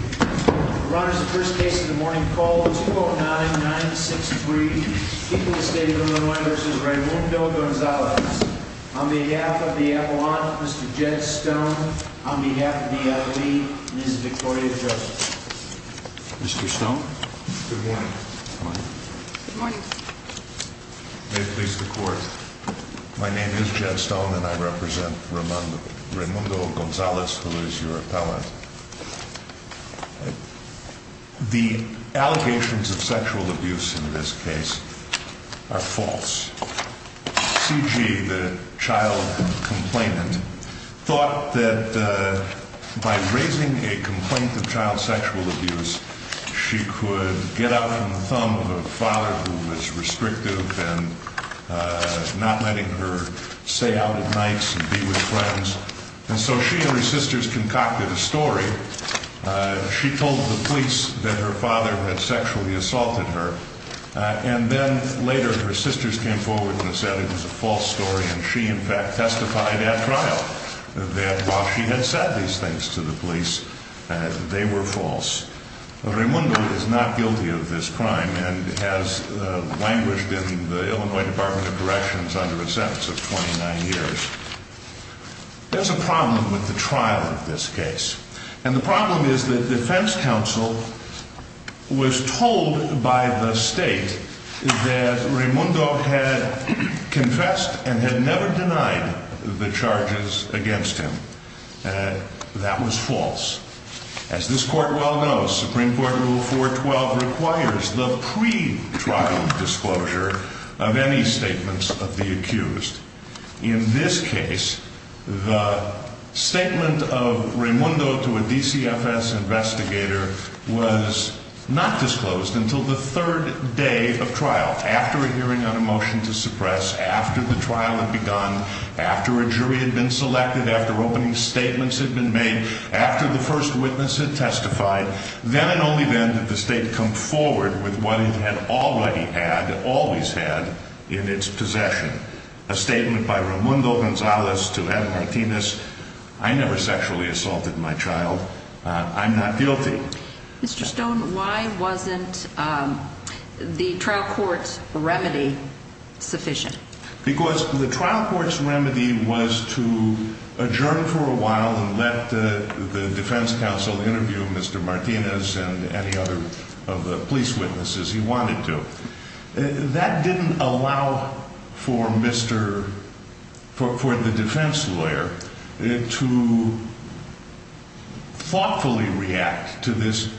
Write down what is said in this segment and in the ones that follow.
Ron, this is the first case of the morning. Call 209-963. People of the State of Illinois v. Raimundo Gonzalez. On behalf of the Appellant, Mr. Jed Stone. On behalf of the Attorney, Ms. Victoria Joseph. Mr. Stone, good morning. Good morning. May it please the Court. My name is Jed Stone and I represent Raimundo Gonzalez, who is your appellant. The allegations of sexual abuse in this case are false. C.G., the child complainant, thought that by raising a complaint of child sexual abuse, she could get out from the thumb of a father who was restrictive and not letting her say out at nights and be with friends. And so she and her sisters concocted a story. She told the police that her father had sexually assaulted her. And then later her sisters came forward and said it was a false story and she in fact testified at trial that while she had said these things to the police, they were false. Raimundo is not guilty of this crime and has languished in the Illinois Department of Corrections under a sentence of 29 years. There's a problem with the trial of this case. And the problem is that defense counsel was told by the state that Raimundo had confessed and had never denied the charges against him. That was false. As this court well knows, Supreme Court Rule 412 requires the pre-trial disclosure of any statements of the accused. In this case, the statement of Raimundo to a DCFS investigator was not disclosed until the third day of trial. After a hearing on a motion to suppress, after the trial had begun, after a jury had been selected, after opening statements had been made, after the first witness had testified, then and only then did the state come forward with what it had already had, always had, in its possession. A statement by Raimundo Gonzalez to Ed Martinez, I never sexually assaulted my child. I'm not guilty. Mr. Stone, why wasn't the trial court's remedy sufficient? Because the trial court's remedy was to adjourn for a while and let the defense counsel interview Mr. Martinez and any other of the police witnesses he wanted to. That didn't allow for the defense lawyer to thoughtfully react to this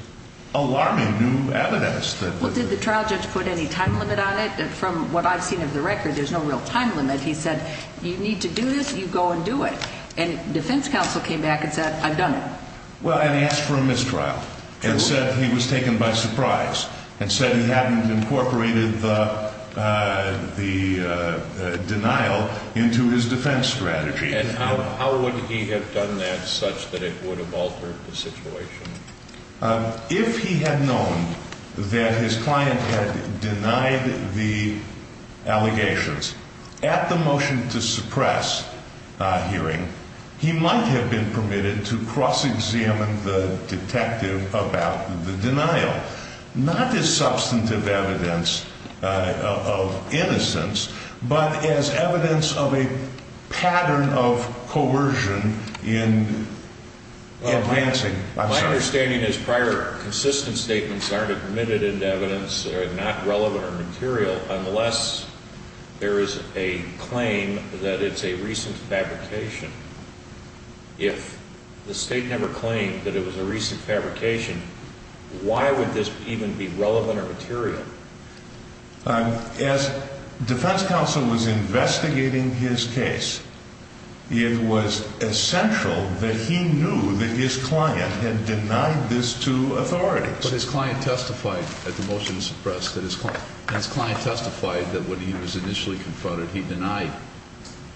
alarming new evidence. Well, did the trial judge put any time limit on it? From what I've seen of the record, there's no real time limit. He said, you need to do this, you go and do it. And defense counsel came back and said, I've done it. Well, and he asked for a mistrial and said he was taken by surprise and said he hadn't incorporated the denial into his defense strategy. And how would he have done that such that it would have altered the situation? If he had known that his client had denied the allegations at the motion to suppress hearing, he might have been permitted to cross-examine the detective about the denial, not as substantive evidence of innocence, but as evidence of a pattern of coercion in advancing. My understanding is prior consistent statements aren't admitted into evidence are not relevant or material unless there is a claim that it's a recent fabrication. If the state never claimed that it was a recent fabrication, why would this even be relevant or material? As defense counsel was investigating his case, it was essential that he knew that his client had denied this to authorities. But his client testified at the motion to suppress that his client testified that when he was initially confronted, he denied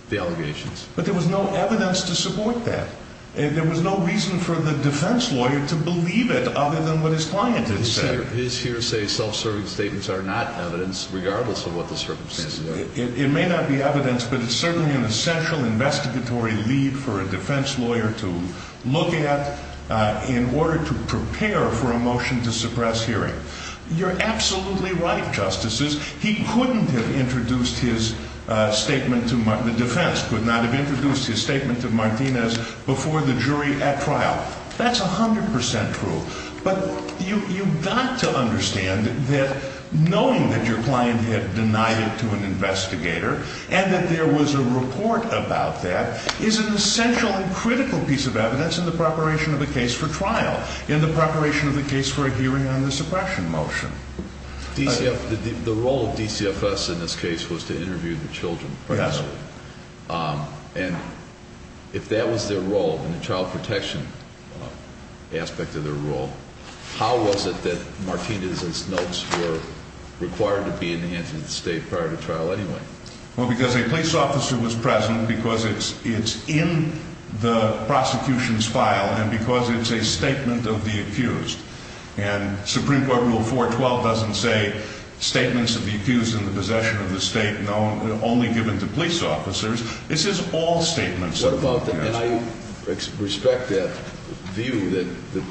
the allegations. But there was no evidence to support that. There was no reason for the defense lawyer to believe it other than what his client had said. His hearsay self-serving statements are not evidence regardless of what the circumstances are. It may not be evidence, but it's certainly an essential investigatory lead for a defense lawyer to look at in order to prepare for a motion to suppress hearing. You're absolutely right, Justices. He couldn't have introduced his statement to the defense, could not have introduced his statement to Martinez before the jury at trial. That's 100% true. But you've got to understand that knowing that your client had denied it to an investigator and that there was a report about that is an essential and critical piece of evidence in the preparation of a case for trial, in the preparation of a case for a hearing on the suppression motion. The role of DCFS in this case was to interview the children. Yes. And if that was their role in the child protection aspect of their role, how was it that Martinez's notes were required to be in the hands of the state prior to trial anyway? Well, because a police officer was present, because it's in the prosecution's file, and because it's a statement of the accused. And Supreme Court Rule 412 doesn't say statements of the accused in the possession of the state only given to police officers. It says all statements of the accused. And I respect that view that the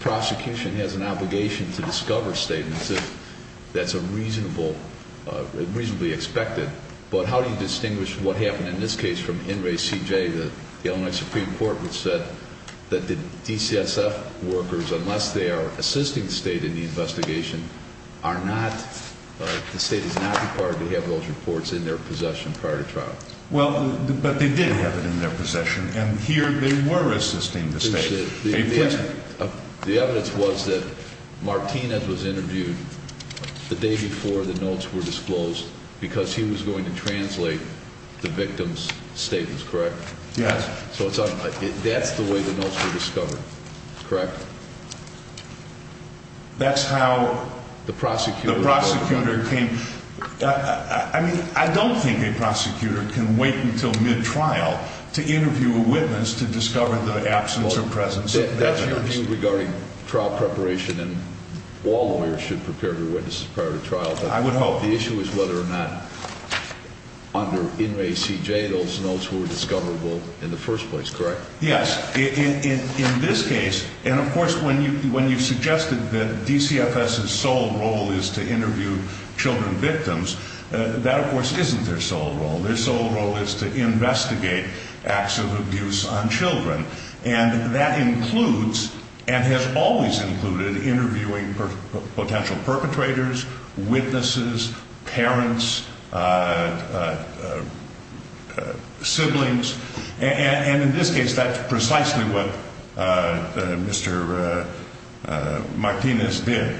prosecution has an obligation to discover statements if that's reasonably expected. But how do you distinguish what happened in this case from In Re C J, the Illinois Supreme Court, which said that the DCSF workers, unless they are assisting the state in the investigation, the state is not required to have those reports in their possession prior to trial. Well, but they did have it in their possession, and here they were assisting the state. The evidence was that Martinez was interviewed the day before the notes were disclosed because he was going to translate the victim's statements, correct? Yes. So that's the way the notes were discovered, correct? That's how the prosecutor came. I mean, I don't think a prosecutor can wait until mid-trial to interview a witness to discover the absence or presence of evidence. That's your view regarding trial preparation, and all lawyers should prepare their witnesses prior to trial. I would hope. The issue is whether or not under In Re C J those notes were discoverable in the first place, correct? Yes. In this case, and of course when you suggested that DCFS's sole role is to interview children victims, that of course isn't their sole role. Their sole role is to investigate acts of abuse on children, and that includes and has always included interviewing potential perpetrators, witnesses, parents, siblings. And in this case, that's precisely what Mr. Martinez did.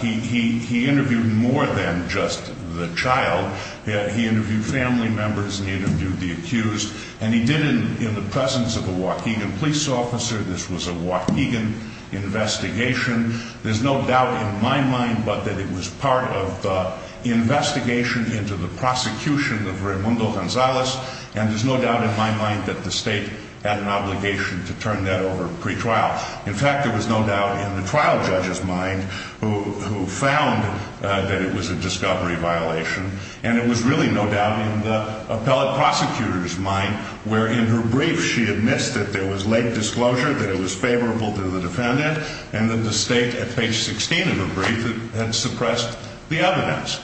He interviewed more than just the child. He interviewed family members, and he interviewed the accused, and he did it in the presence of a Oaxacan police officer. This was a Oaxacan investigation. There's no doubt in my mind but that it was part of the investigation into the prosecution of Raimundo Gonzalez, and there's no doubt in my mind that the state had an obligation to turn that over pre-trial. In fact, there was no doubt in the trial judge's mind who found that it was a discovery violation, and it was really no doubt in the appellate prosecutor's mind where in her brief she admits that there was late disclosure, that it was favorable to the defendant, and that the state at page 16 of her brief had suppressed the evidence.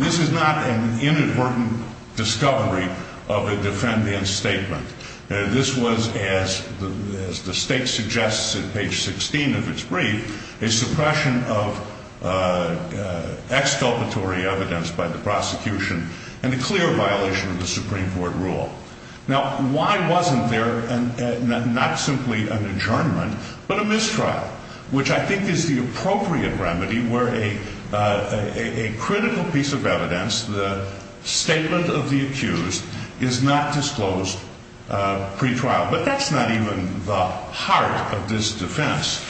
This is not an inadvertent discovery of a defendant's statement. This was, as the state suggests at page 16 of its brief, a suppression of exculpatory evidence by the prosecution and a clear violation of the Supreme Court rule. Now, why wasn't there not simply an adjournment but a mistrial? Which I think is the appropriate remedy where a critical piece of evidence, the statement of the accused, is not disclosed pre-trial. But that's not even the heart of this defense,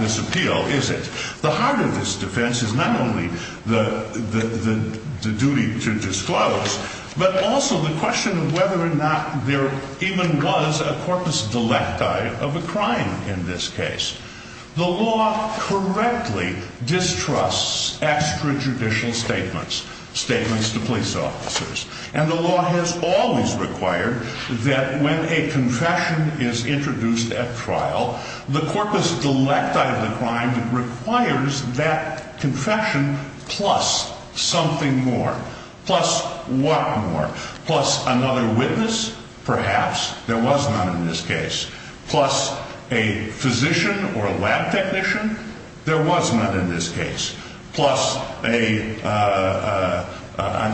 this appeal, is it? The heart of this defense is not only the duty to disclose, but also the question of whether or not there even was a corpus delecti of a crime in this case. The law correctly distrusts extrajudicial statements, statements to police officers. And the law has always required that when a confession is introduced at trial, the corpus delecti of the crime requires that confession plus something more. Plus what more? Plus another witness? Perhaps. There was none in this case. Plus a physician or a lab technician? There was none in this case. Plus an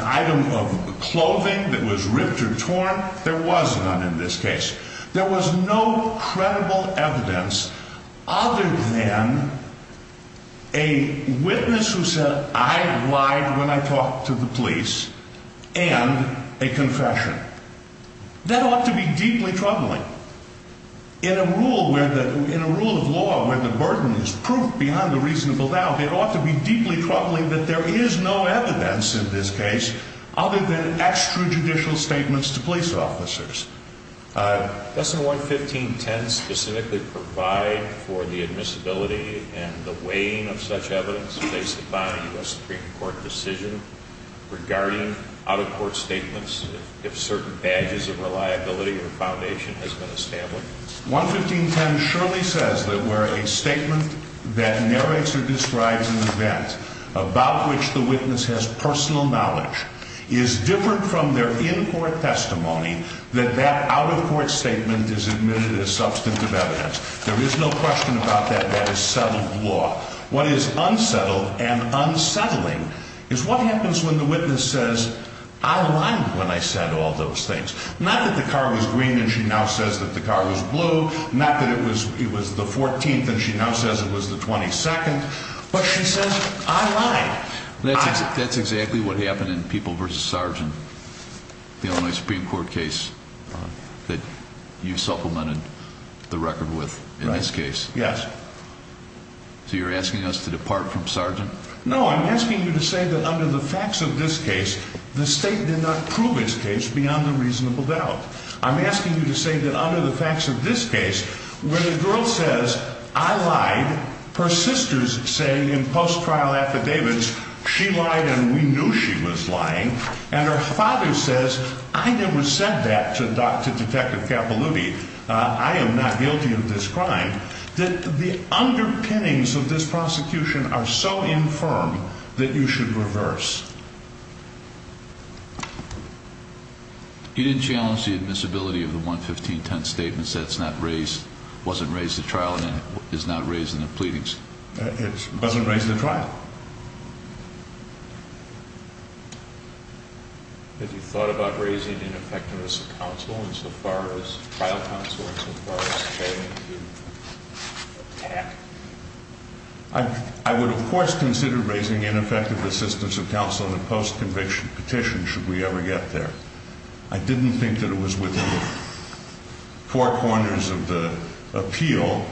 item of clothing that was ripped or torn? There was none in this case. There was no credible evidence other than a witness who said, I lied when I talked to the police, and a confession. That ought to be deeply troubling. In a rule of law where the burden is proof beyond the reasonable doubt, it ought to be deeply troubling that there is no evidence in this case other than extrajudicial statements to police officers. Doesn't 11510 specifically provide for the admissibility and the weighing of such evidence based upon a U.S. Supreme Court decision regarding out-of-court statements if certain badges of reliability or foundation has been established? 11510 surely says that where a statement that narrates or describes an event about which the witness has personal knowledge is different from their in-court testimony, that that out-of-court statement is admitted as substantive evidence. There is no question about that. That is settled law. What is unsettled and unsettling is what happens when the witness says, I lied when I said all those things. Not that the car was green and she now says that the car was blue, not that it was the 14th and she now says it was the 22nd, but she says, I lied. That's exactly what happened in People v. Sargent, the Illinois Supreme Court case that you supplemented the record with in this case. Yes. So you're asking us to depart from Sargent? No, I'm asking you to say that under the facts of this case, the State did not prove its case beyond a reasonable doubt. I'm asking you to say that under the facts of this case, when a girl says, I lied, her sisters say in post-trial affidavits, she lied and we knew she was lying, and her father says, I never said that to Dr. Detective Capaluti, I am not guilty of this crime, that the underpinnings of this prosecution are so infirm that you should reverse. You didn't challenge the admissibility of the 11510 statements that it's not raised, wasn't raised at trial and is not raised in the pleadings. It wasn't raised at trial. Have you thought about raising ineffectiveness of counsel in so far as trial counsel and so far as failing to attack? I would, of course, consider raising ineffective assistance of counsel in a post-conviction petition should we ever get there. I didn't think that it was within four corners of the appeal.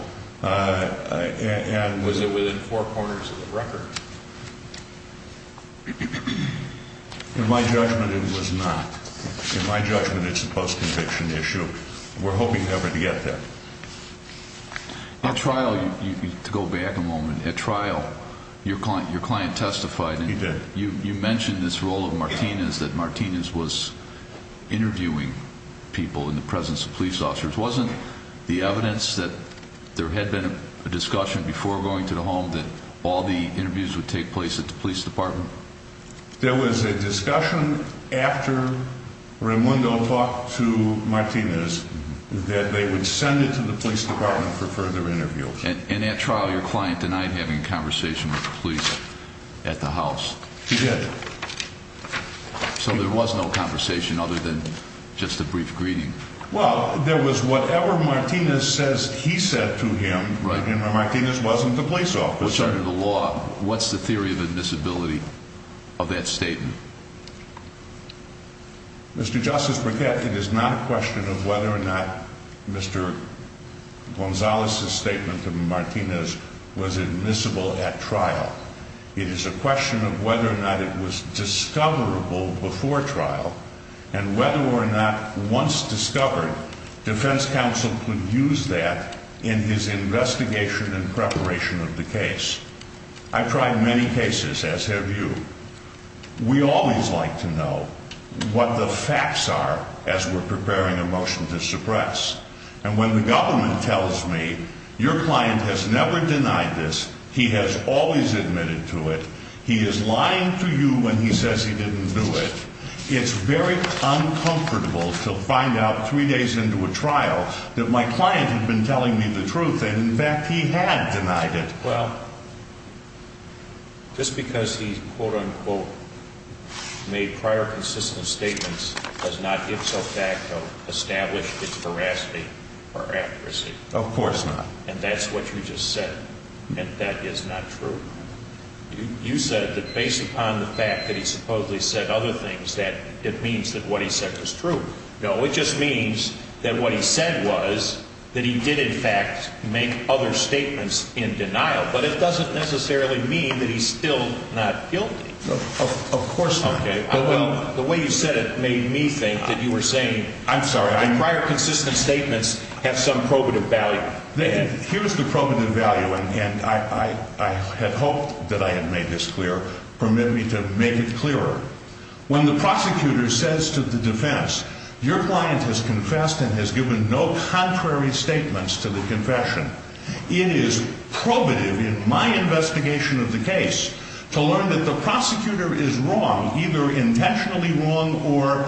Was it within four corners of the record? In my judgment, it was not. In my judgment, it's a post-conviction issue. We're hoping never to get there. At trial, to go back a moment, at trial your client testified. He did. You mentioned this role of Martinez, that Martinez was interviewing people in the presence of police officers. Wasn't the evidence that there had been a discussion before going to the home that all the interviews would take place at the police department? There was a discussion after Raimundo talked to Martinez that they would send it to the police department for further interviews. And at trial, your client denied having a conversation with the police at the house? He did. So there was no conversation other than just a brief greeting? Well, there was whatever Martinez says he said to him, and Martinez wasn't the police officer. Which under the law, what's the theory of admissibility of that statement? Mr. Justice Burkett, it is not a question of whether or not Mr. Gonzalez's statement to Martinez was admissible at trial. It is a question of whether or not it was discoverable before trial, and whether or not once discovered, defense counsel could use that in his investigation and preparation of the case. I've tried many cases, as have you. We always like to know what the facts are as we're preparing a motion to suppress. And when the government tells me, your client has never denied this, he has always admitted to it, he is lying to you when he says he didn't do it, it's very uncomfortable to find out three days into a trial that my client had been telling me the truth, and in fact he had denied it. Well, just because he's quote-unquote made prior consistent statements does not ipso facto establish its veracity or accuracy. Of course not. And that's what you just said, and that is not true. You said that based upon the fact that he supposedly said other things, that it means that what he said was true. No, it just means that what he said was that he did in fact make other statements in denial, but it doesn't necessarily mean that he's still not guilty. Of course not. Okay. The way you said it made me think that you were saying the prior consistent statements have some probative value. Here's the probative value, and I had hoped that I had made this clear, permit me to make it clearer. When the prosecutor says to the defense, your client has confessed and has given no contrary statements to the confession, it is probative in my investigation of the case to learn that the prosecutor is wrong, either intentionally wrong or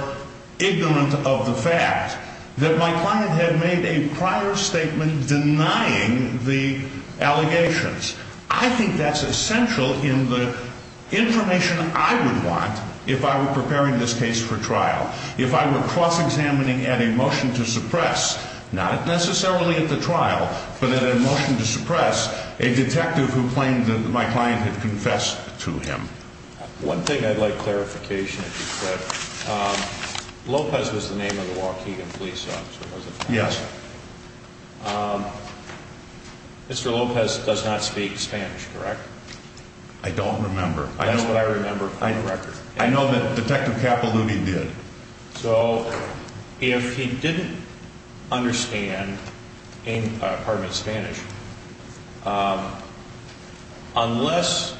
ignorant of the fact, that my client had made a prior statement denying the allegations. I think that's essential in the information I would want if I were preparing this case for trial, if I were cross-examining at a motion to suppress, not necessarily at the trial, but at a motion to suppress a detective who claimed that my client had confessed to him. One thing I'd like clarification if you could. Lopez was the name of the Waukegan police officer, wasn't he? Yes. Mr. Lopez does not speak Spanish, correct? I don't remember. That's what I remember from the record. I know that Detective Capaluti did. So if he didn't understand, pardon me, Spanish, unless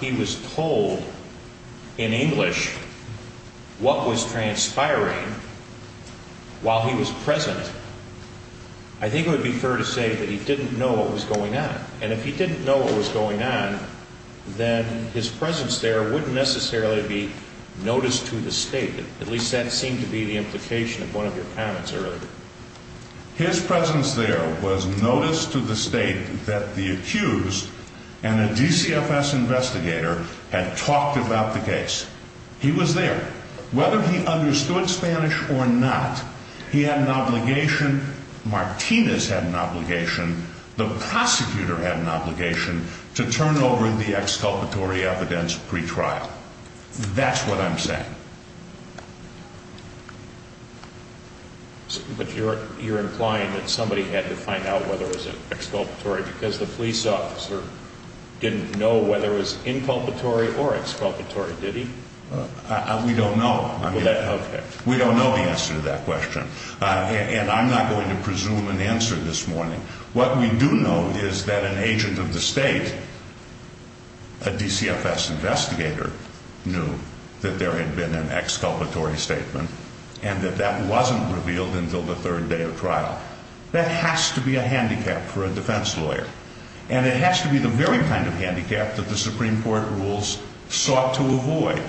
he was told in English what was transpiring while he was present, I think it would be fair to say that he didn't know what was going on. And if he didn't know what was going on, then his presence there wouldn't necessarily be notice to the State. At least that seemed to be the implication of one of your comments earlier. His presence there was notice to the State that the accused and a DCFS investigator had talked about the case. He was there. Whether he understood Spanish or not, he had an obligation, Martinez had an obligation, the prosecutor had an obligation to turn over the exculpatory evidence pretrial. That's what I'm saying. But you're implying that somebody had to find out whether it was exculpatory because the police officer didn't know whether it was inculpatory or exculpatory, did he? We don't know. Okay. We don't know the answer to that question. And I'm not going to presume an answer this morning. What we do know is that an agent of the State, a DCFS investigator, knew that there had been an exculpatory statement and that that wasn't revealed until the third day of trial. That has to be a handicap for a defense lawyer. And it has to be the very kind of handicap that the Supreme Court rules sought to avoid.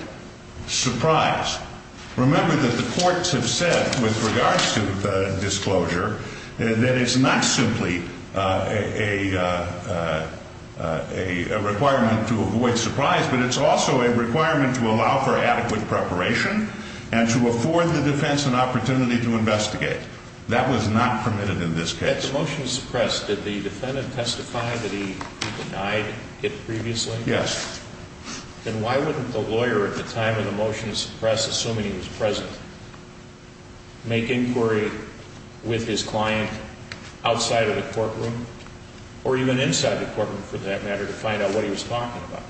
Surprise. Remember that the courts have said with regards to disclosure that it's not simply a requirement to avoid surprise, but it's also a requirement to allow for adequate preparation and to afford the defense an opportunity to investigate. That was not permitted in this case. If the motion is suppressed, did the defendant testify that he denied it previously? Yes. Then why wouldn't the lawyer at the time when the motion is suppressed, assuming he was present, make inquiry with his client outside of the courtroom or even inside the courtroom for that matter to find out what he was talking about?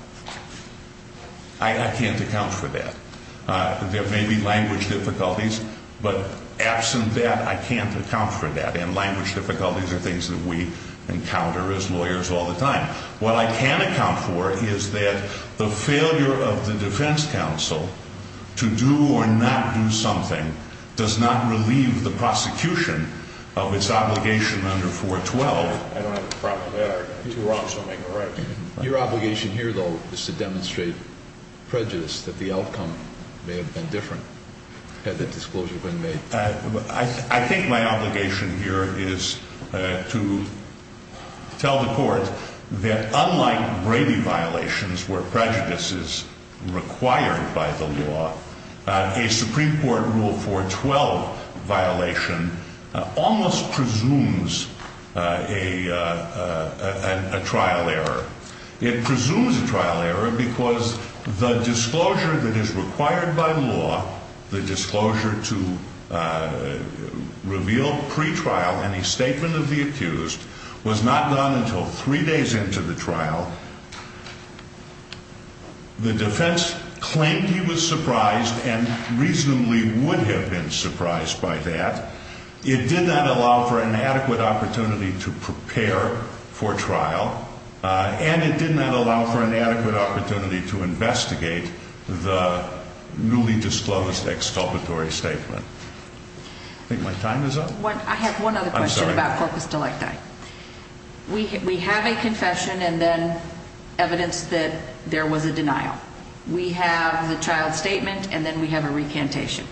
I can't account for that. There may be language difficulties, but absent that, I can't account for that. And language difficulties are things that we encounter as lawyers all the time. What I can account for is that the failure of the defense counsel to do or not do something does not relieve the prosecution of its obligation under 412. I don't have a problem with that. You're wrong, so make a right. Your obligation here, though, is to demonstrate prejudice that the outcome may have been different had the disclosure been made. I think my obligation here is to tell the court that unlike Brady violations where prejudice is required by the law, a Supreme Court Rule 412 violation almost presumes a trial error. It presumes a trial error because the disclosure that is required by law, the disclosure to reveal pretrial any statement of the accused, was not done until three days into the trial. The defense claimed he was surprised and reasonably would have been surprised by that. It did not allow for an adequate opportunity to prepare for trial, and it did not allow for an adequate opportunity to investigate the newly disclosed exculpatory statement. I think my time is up. I have one other question about corpus delecti. We have a confession and then evidence that there was a denial. We have the trial statement and then we have a recantation.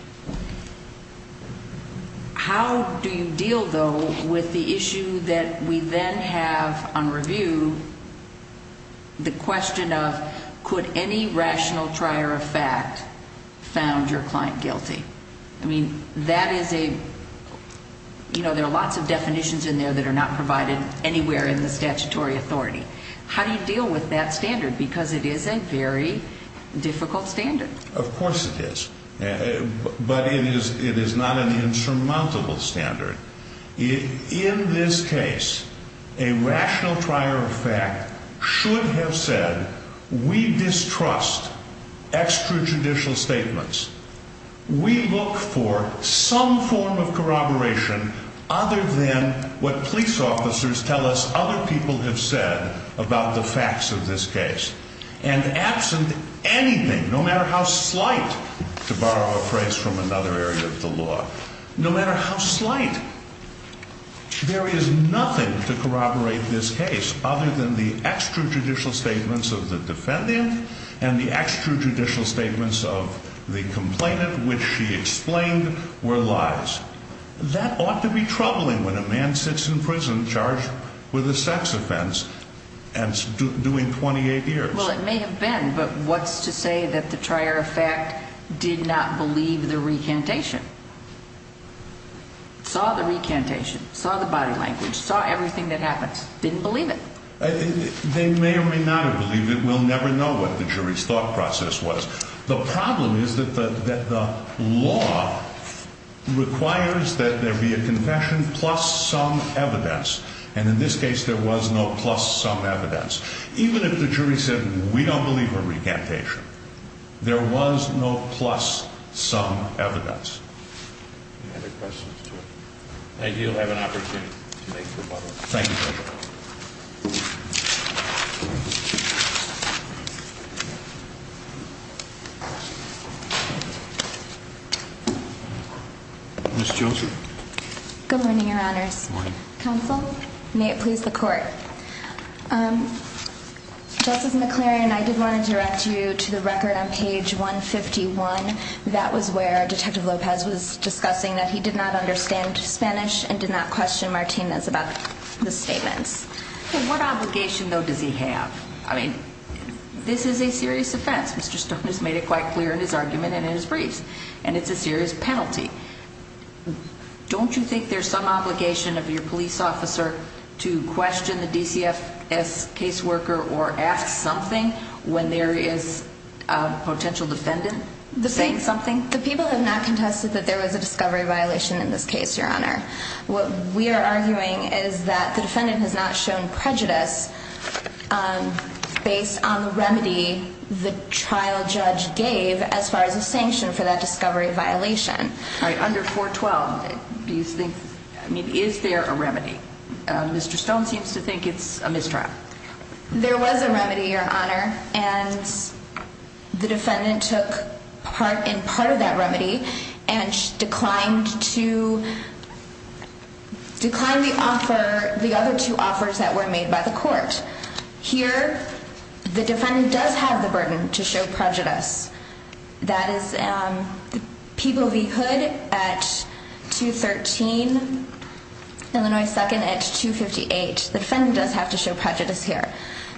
How do you deal, though, with the issue that we then have on review, the question of could any rational trier of fact found your client guilty? I mean, that is a, you know, there are lots of definitions in there that are not provided anywhere in the statutory authority. How do you deal with that standard? Because it is a very difficult standard. Of course it is. But it is not an insurmountable standard. In this case, a rational trier of fact should have said we distrust extrajudicial statements. We look for some form of corroboration other than what police officers tell us other people have said about the facts of this case. And absent anything, no matter how slight, to borrow a phrase from another area of the law, no matter how slight, there is nothing to corroborate this case other than the extrajudicial statements of the defendant and the extrajudicial statements of the complainant, which she explained were lies. That ought to be troubling when a man sits in prison charged with a sex offense and is doing 28 years. Well, it may have been, but what's to say that the trier of fact did not believe the recantation? Saw the recantation, saw the body language, saw everything that happens, didn't believe it. They may or may not have believed it. We'll never know what the jury's thought process was. The problem is that the law requires that there be a confession plus some evidence. And in this case, there was no plus some evidence. Even if the jury said we don't believe her recantation, there was no plus some evidence. Any other questions? I do have an opportunity to make rebuttal. Thank you. Good morning, Your Honors. Counsel, may it please the court. Justice McLaren, I did want to direct you to the record on page 151. That was where Detective Lopez was discussing that he did not understand Spanish and did not question Martinez about the statements. What obligation, though, does he have? I mean, this is a serious offense. Mr. Stone has made it quite clear in his argument and in his briefs. And it's a serious penalty. Don't you think there's some obligation of your police officer to question the DCFS caseworker or ask something when there is a potential defendant saying something? The people have not contested that there was a discovery violation in this case, Your Honor. What we are arguing is that the defendant has not shown prejudice based on the remedy the trial judge gave as far as a sanction for that discovery violation. All right. Under 412, do you think, I mean, is there a remedy? Mr. Stone seems to think it's a mistrial. There was a remedy, Your Honor, and the defendant took part in part of that remedy and declined to decline the other two offers that were made by the court. Here, the defendant does have the burden to show prejudice. That is People v. Hood at 213, Illinois 2nd at 258. The defendant does have to show prejudice here.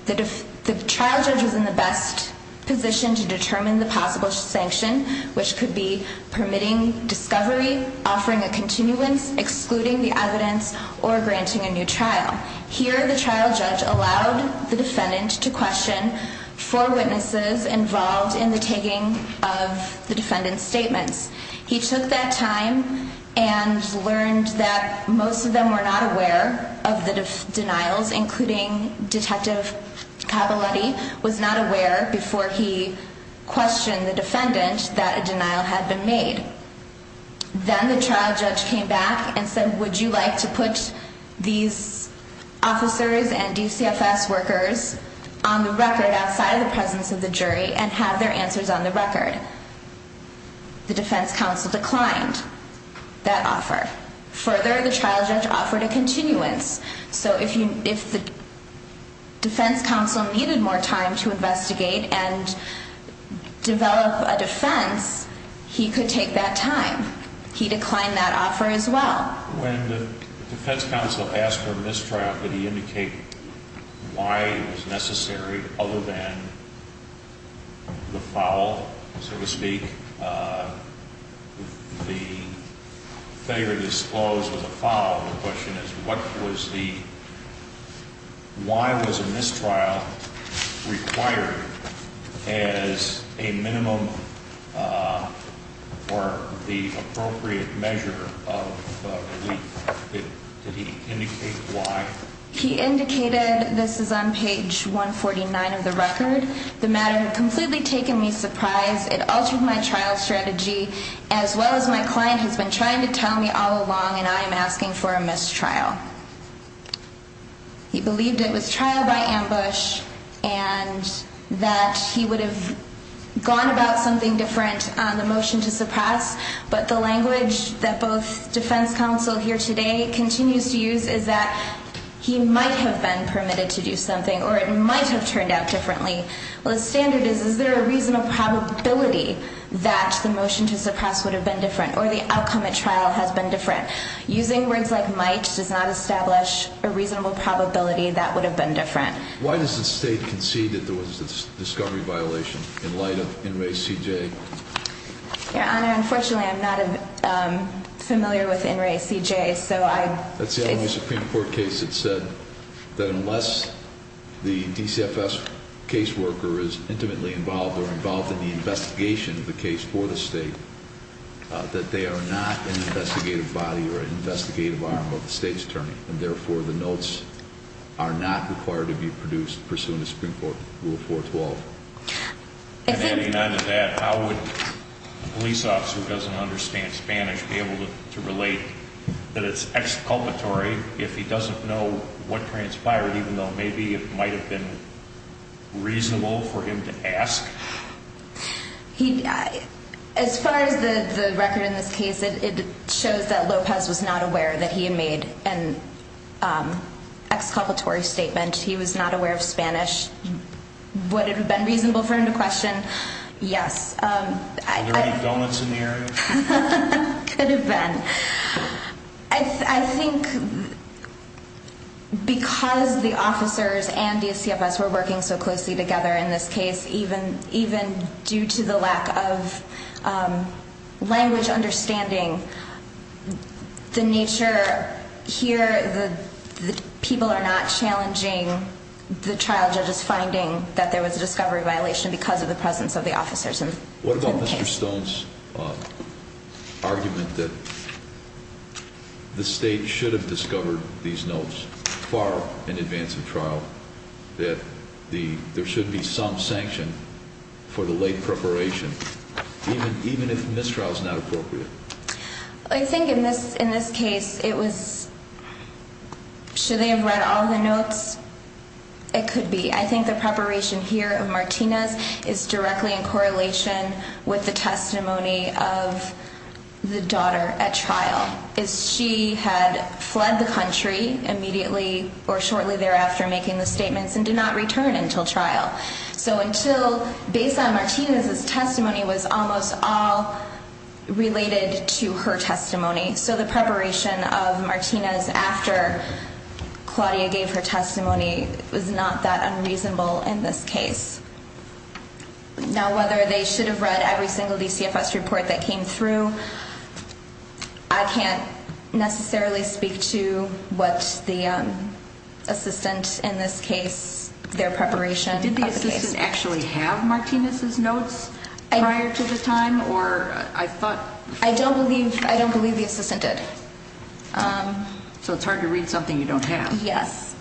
The trial judge was in the best position to determine the possible sanction, which could be permitting discovery, offering a continuance, excluding the evidence, or granting a new trial. Here, the trial judge allowed the defendant to question four witnesses involved in the taking of the defendant's statements. He took that time and learned that most of them were not aware of the denials, including Detective Cavalletti, was not aware before he questioned the defendant that a denial had been made. Then the trial judge came back and said, Would you like to put these officers and DCFS workers on the record outside of the presence of the jury and have their answers on the record? The defense counsel declined that offer. Further, the trial judge offered a continuance. So if the defense counsel needed more time to investigate and develop a defense, he could take that time. He declined that offer as well. When the defense counsel asked for a mistrial, did he indicate why it was necessary other than the foul, so to speak? The failure to disclose was a foul. The question is, why was a mistrial required as a minimum or the appropriate measure of relief? Did he indicate why? He indicated, this is on page 149 of the record, the matter had completely taken me by surprise. It altered my trial strategy as well as my client has been trying to tell me all along and I am asking for a mistrial. He believed it was trial by ambush and that he would have gone about something different on the motion to suppress. But the language that both defense counsel here today continues to use is that he might have been permitted to do something or it might have turned out differently. The standard is, is there a reasonable probability that the motion to suppress would have been different or the outcome at trial has been different? Using words like might does not establish a reasonable probability that would have been different. Why does the state concede that there was a discovery violation in light of NRACJ? Your Honor, unfortunately I am not familiar with NRACJ. That's the only Supreme Court case that said that unless the DCFS case worker is intimately involved or involved in the investigation of the case for the state, that they are not an investigative body or an investigative arm of the state's attorney. And therefore the notes are not required to be produced pursuant to Supreme Court Rule 412. Adding on to that, how would a police officer who doesn't understand Spanish be able to relate that it's exculpatory if he doesn't know what transpired, even though maybe it might have been reasonable for him to ask? As far as the record in this case, it shows that Lopez was not aware that he had made an exculpatory statement. He was not aware of Spanish. Would it have been reasonable for him to question? Yes. Are there any donuts in the air? Could have been. I think because the officers and DCFS were working so closely together in this case, even due to the lack of language understanding, the nature here, the people are not challenging the trial judges finding that there was a discovery violation because of the presence of the officers. What about Mr. Stone's argument that the state should have discovered these notes far in advance of trial, that there should be some sanction for the late preparation, even if mistrial is not appropriate? I think in this case it was, should they have read all the notes? It could be. I think the preparation here of Martinez is directly in correlation with the testimony of the daughter at trial. She had fled the country immediately or shortly thereafter making the statements and did not return until trial. So until, based on Martinez's testimony, it was almost all related to her testimony. So the preparation of Martinez after Claudia gave her testimony was not that unreasonable in this case. Now, whether they should have read every single DCFS report that came through, I can't necessarily speak to what the assistant in this case, their preparation. Did the assistant actually have Martinez's notes prior to the time? I don't believe the assistant did. So it's hard to read something you don't have. Yes.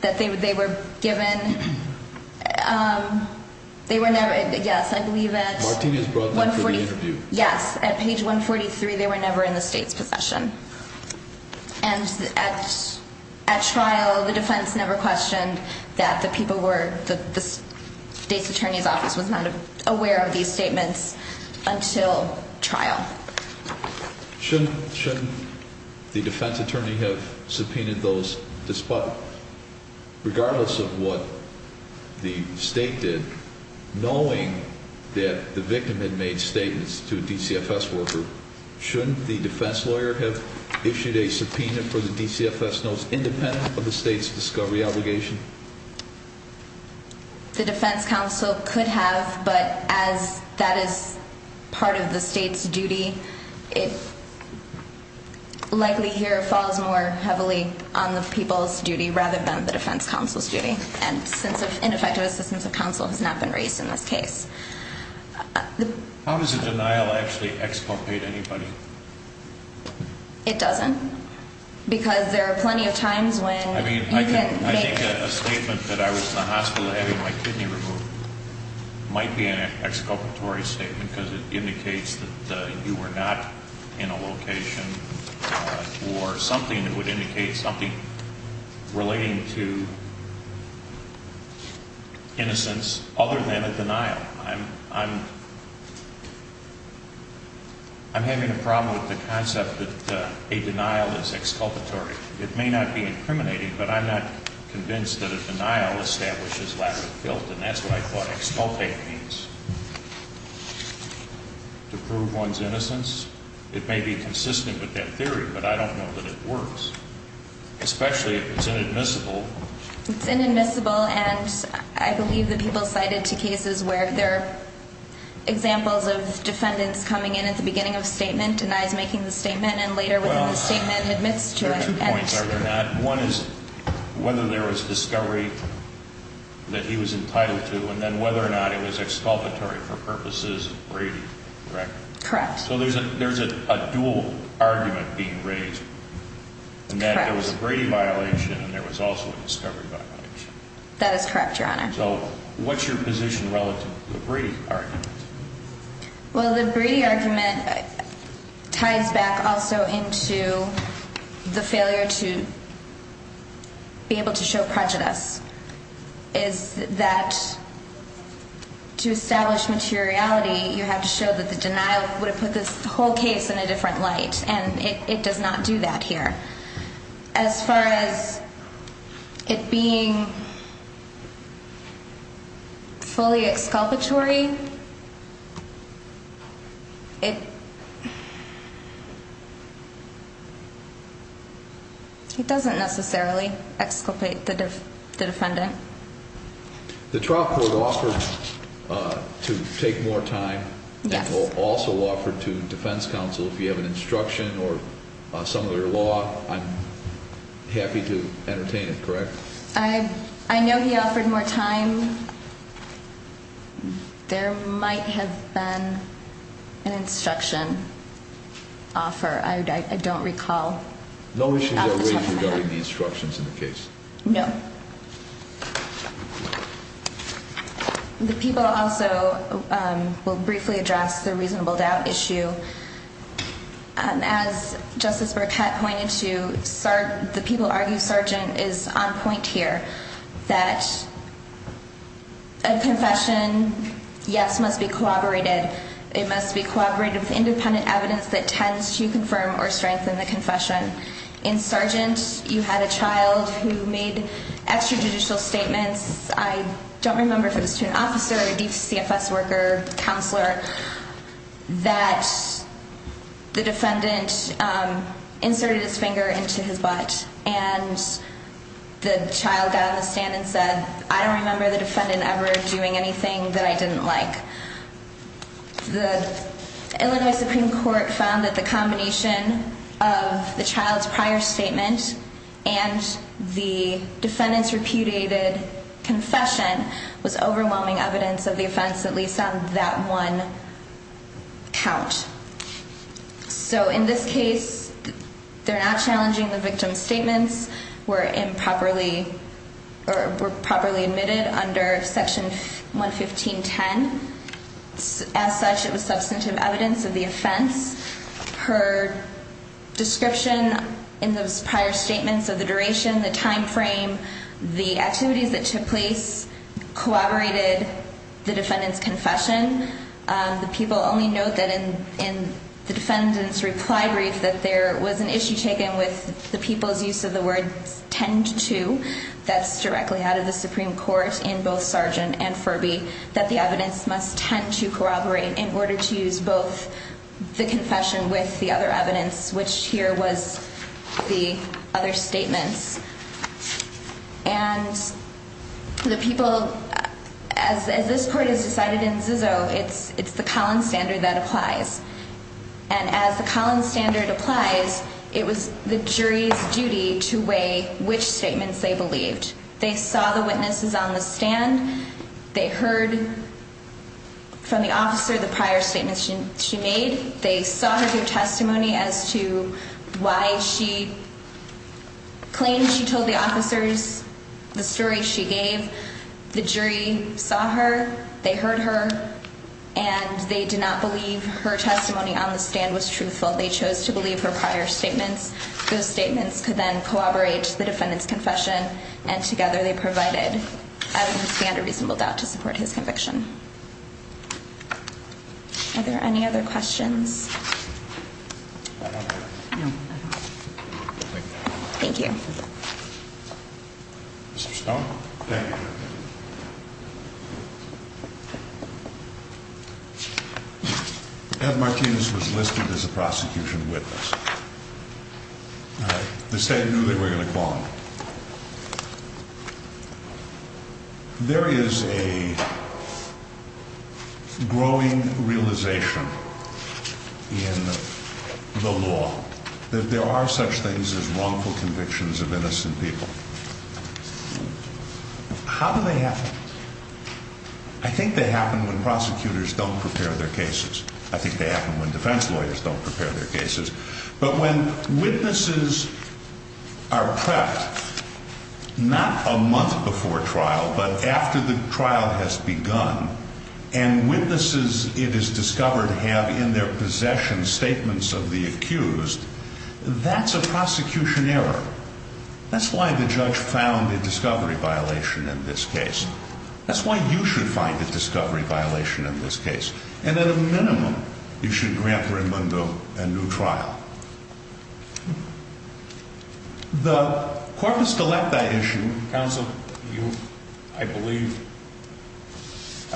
That they were given, they were never, yes, I believe at 143, they were never in the state's possession. And at trial, the defense never questioned that the people were, the state's attorney's office was not aware of these statements until trial. Shouldn't the defense attorney have subpoenaed those despite, regardless of what the state did, knowing that the victim had made statements to a DCFS worker? Shouldn't the defense lawyer have issued a subpoena for the DCFS notes independent of the state's discovery obligation? The defense counsel could have, but as that is part of the state's duty, it likely here falls more heavily on the people's duty rather than the defense counsel's duty. And since ineffective assistance of counsel has not been raised in this case. How does a denial actually exculpate anybody? It doesn't. Because there are plenty of times when you can make... I think a statement that I was in the hospital having my kidney removed might be an exculpatory statement because it indicates that you were not in a location or something that would indicate something relating to innocence other than a denial. I'm having a problem with the concept that a denial is exculpatory. It may not be incriminating, but I'm not convinced that a denial establishes lateral guilt, and that's what I thought exculpate means. To prove one's innocence? It may be consistent with that theory, but I don't know that it works. Especially if it's inadmissible. It's inadmissible, and I believe the people cited to cases where there are examples of defendants coming in at the beginning of a statement, denies making the statement, and later within the statement admits to it. Well, there are two points, are there not? One is whether there was discovery that he was entitled to, and then whether or not it was exculpatory for purposes of Brady, correct? Correct. So there's a dual argument being raised in that there was a Brady violation and there was also a discovery violation. That is correct, Your Honor. So what's your position relative to the Brady argument? Well, the Brady argument ties back also into the failure to be able to show prejudice, is that to establish materiality, you have to show that the denial would have put this whole case in a different light, and it does not do that here. As far as it being fully exculpatory, it doesn't necessarily exculpate the defendant. The trial court offered to take more time. Yes. The defense counsel also offered to, defense counsel, if you have an instruction or some other law, I'm happy to entertain it, correct? I know he offered more time. There might have been an instruction offer. I don't recall. No issues are raised regarding the instructions in the case. No. The people also will briefly address the reasonable doubt issue. As Justice Burkett pointed to, the people argue, Sergeant, is on point here, that a confession, yes, must be corroborated. It must be corroborated with independent evidence that tends to confirm or strengthen the confession. In Sergeant, you had a child who made extrajudicial statements, I don't remember if it was to an officer, a CFS worker, counselor, that the defendant inserted his finger into his butt, and the child got on the stand and said, I don't remember the defendant ever doing anything that I didn't like. The Illinois Supreme Court found that the combination of the child's prior statement and the defendant's repudiated confession was overwhelming evidence of the offense, at least on that one count. So in this case, they're not challenging the victim's statements, were improperly admitted under Section 115.10. As such, it was substantive evidence of the offense. Her description in those prior statements of the duration, the time frame, the activities that took place corroborated the defendant's confession. The people only note that in the defendant's reply brief, that there was an issue taken with the people's use of the word tend to, that's directly out of the Supreme Court in both Sergeant and Furby, that the evidence must tend to corroborate in order to use both the confession with the other evidence, which here was the other statements. And the people, as this court has decided in Zizzo, it's the Collins standard that applies. And as the Collins standard applies, it was the jury's duty to weigh which statements they believed. They saw the witnesses on the stand. They heard from the officer the prior statements she made. They saw her give testimony as to why she claimed she told the officers the story she gave. The jury saw her, they heard her, and they did not believe her testimony on the stand was truthful. They chose to believe her prior statements. Those statements could then corroborate the defendant's confession, and together they provided evidence to stand a reasonable doubt to support his conviction. Are there any other questions? Thank you. Mr. Stone? Thank you. Ed Martinez was listed as a prosecution witness. The state knew they were going to call him. There is a growing realization in the law that there are such things as wrongful convictions of innocent people. How do they happen? I think they happen when prosecutors don't prepare their cases. I think they happen when defense lawyers don't prepare their cases. But when witnesses are prepped, not a month before trial, but after the trial has begun, and witnesses, it is discovered, have in their possession statements of the accused, that's a prosecution error. That's why the judge found a discovery violation in this case. That's why you should find a discovery violation in this case. And at a minimum, you should grant Rimundo a new trial. The court must elect that issue. Counsel, I believe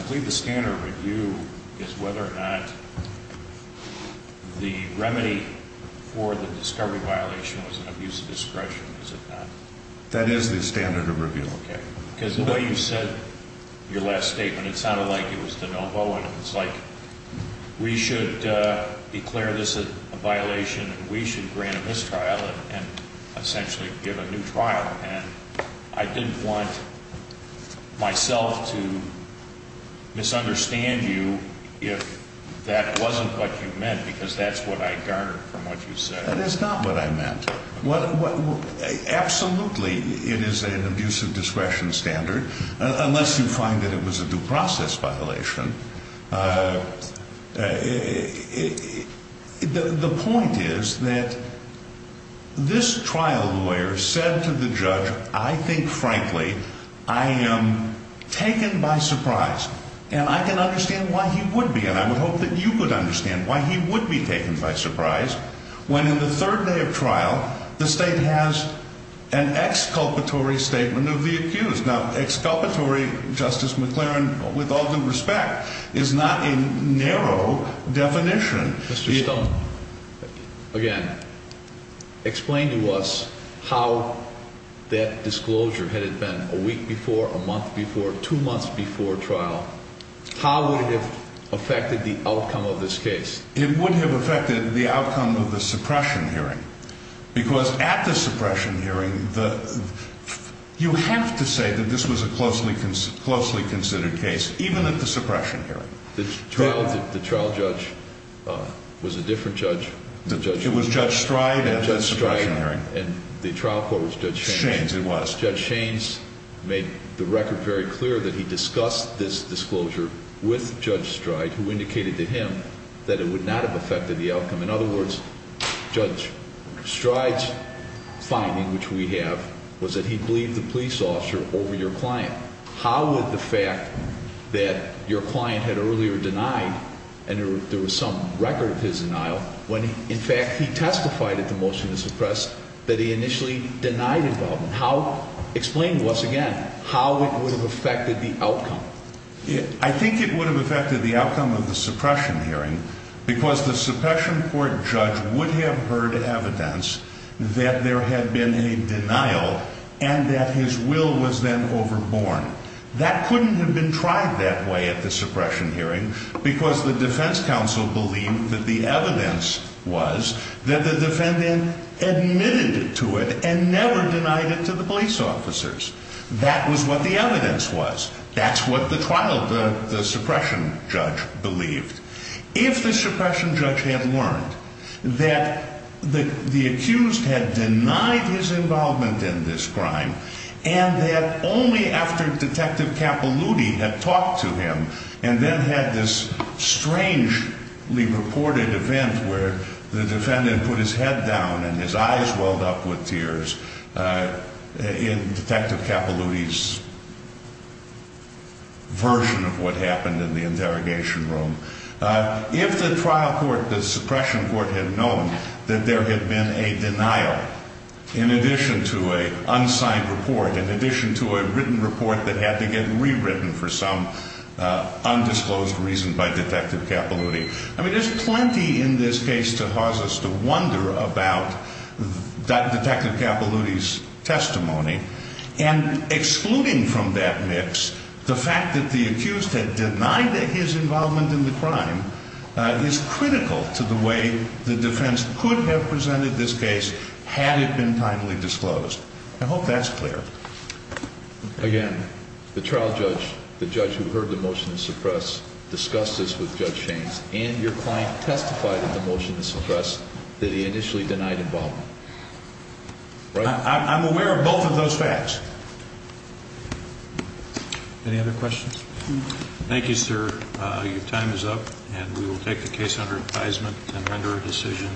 the standard review is whether or not the remedy for the discovery violation was an abuse of discretion. Is it not? That is the standard of review. Okay. Because the way you said your last statement, it sounded like it was de novo, and it's like we should declare this a violation and we should grant a mistrial and essentially give a new trial. And I didn't want myself to misunderstand you if that wasn't what you meant, because that's what I garnered from what you said. That is not what I meant. Absolutely, it is an abuse of discretion standard, unless you find that it was a due process violation. The point is that this trial lawyer said to the judge, I think, frankly, I am taken by surprise, and I can understand why he would be, and I would hope that you could understand why he would be taken by surprise, when in the third day of trial, the state has an exculpatory statement of the accused. Now, exculpatory, Justice McLaren, with all due respect, is not a narrow definition. Mr. Stone, again, explain to us how that disclosure, had it been a week before, a month before, two months before trial, how would it have affected the outcome of this case? It would have affected the outcome of the suppression hearing, because at the suppression hearing, you have to say that this was a closely considered case, even at the suppression hearing. The trial judge was a different judge. It was Judge Stride at the suppression hearing. And the trial court was Judge Shaines. It was. Judge Shaines made the record very clear that he discussed this disclosure with Judge Stride, who indicated to him that it would not have affected the outcome. In other words, Judge Stride's finding, which we have, was that he believed the police officer over your client. How would the fact that your client had earlier denied, and there was some record of his denial, when, in fact, he testified at the motion to suppress, that he initially denied involvement, how, explain to us again, how it would have affected the outcome? I think it would have affected the outcome of the suppression hearing, because the suppression court judge would have heard evidence that there had been a denial, and that his will was then overborne. That couldn't have been tried that way at the suppression hearing, because the defense counsel believed that the evidence was that the defendant admitted to it, and never denied it to the police officers. That was what the evidence was. That's what the trial, the suppression judge, believed. If the suppression judge had learned that the accused had denied his involvement in this crime, and that only after Detective Capaluti had talked to him, and then had this strangely reported event where the defendant put his head down and his eyes welled up with tears in Detective Capaluti's version of what happened in the interrogation room, if the trial court, the suppression court, had known that there had been a denial, in addition to an unsigned report, in addition to a written report that had to get rewritten for some undisclosed reason by Detective Capaluti, I mean, there's plenty in this case to cause us to wonder about Detective Capaluti's testimony. And excluding from that mix the fact that the accused had denied his involvement in the crime is critical to the way the defense could have presented this case had it been timely disclosed. I hope that's clear. Again, the trial judge, the judge who heard the motion to suppress, discussed this with Judge Shaines, and your client testified in the motion to suppress that he initially denied involvement. I'm aware of both of those facts. Any other questions? Thank you, sir. Your time is up, and we will take the case under advisement and render a decision.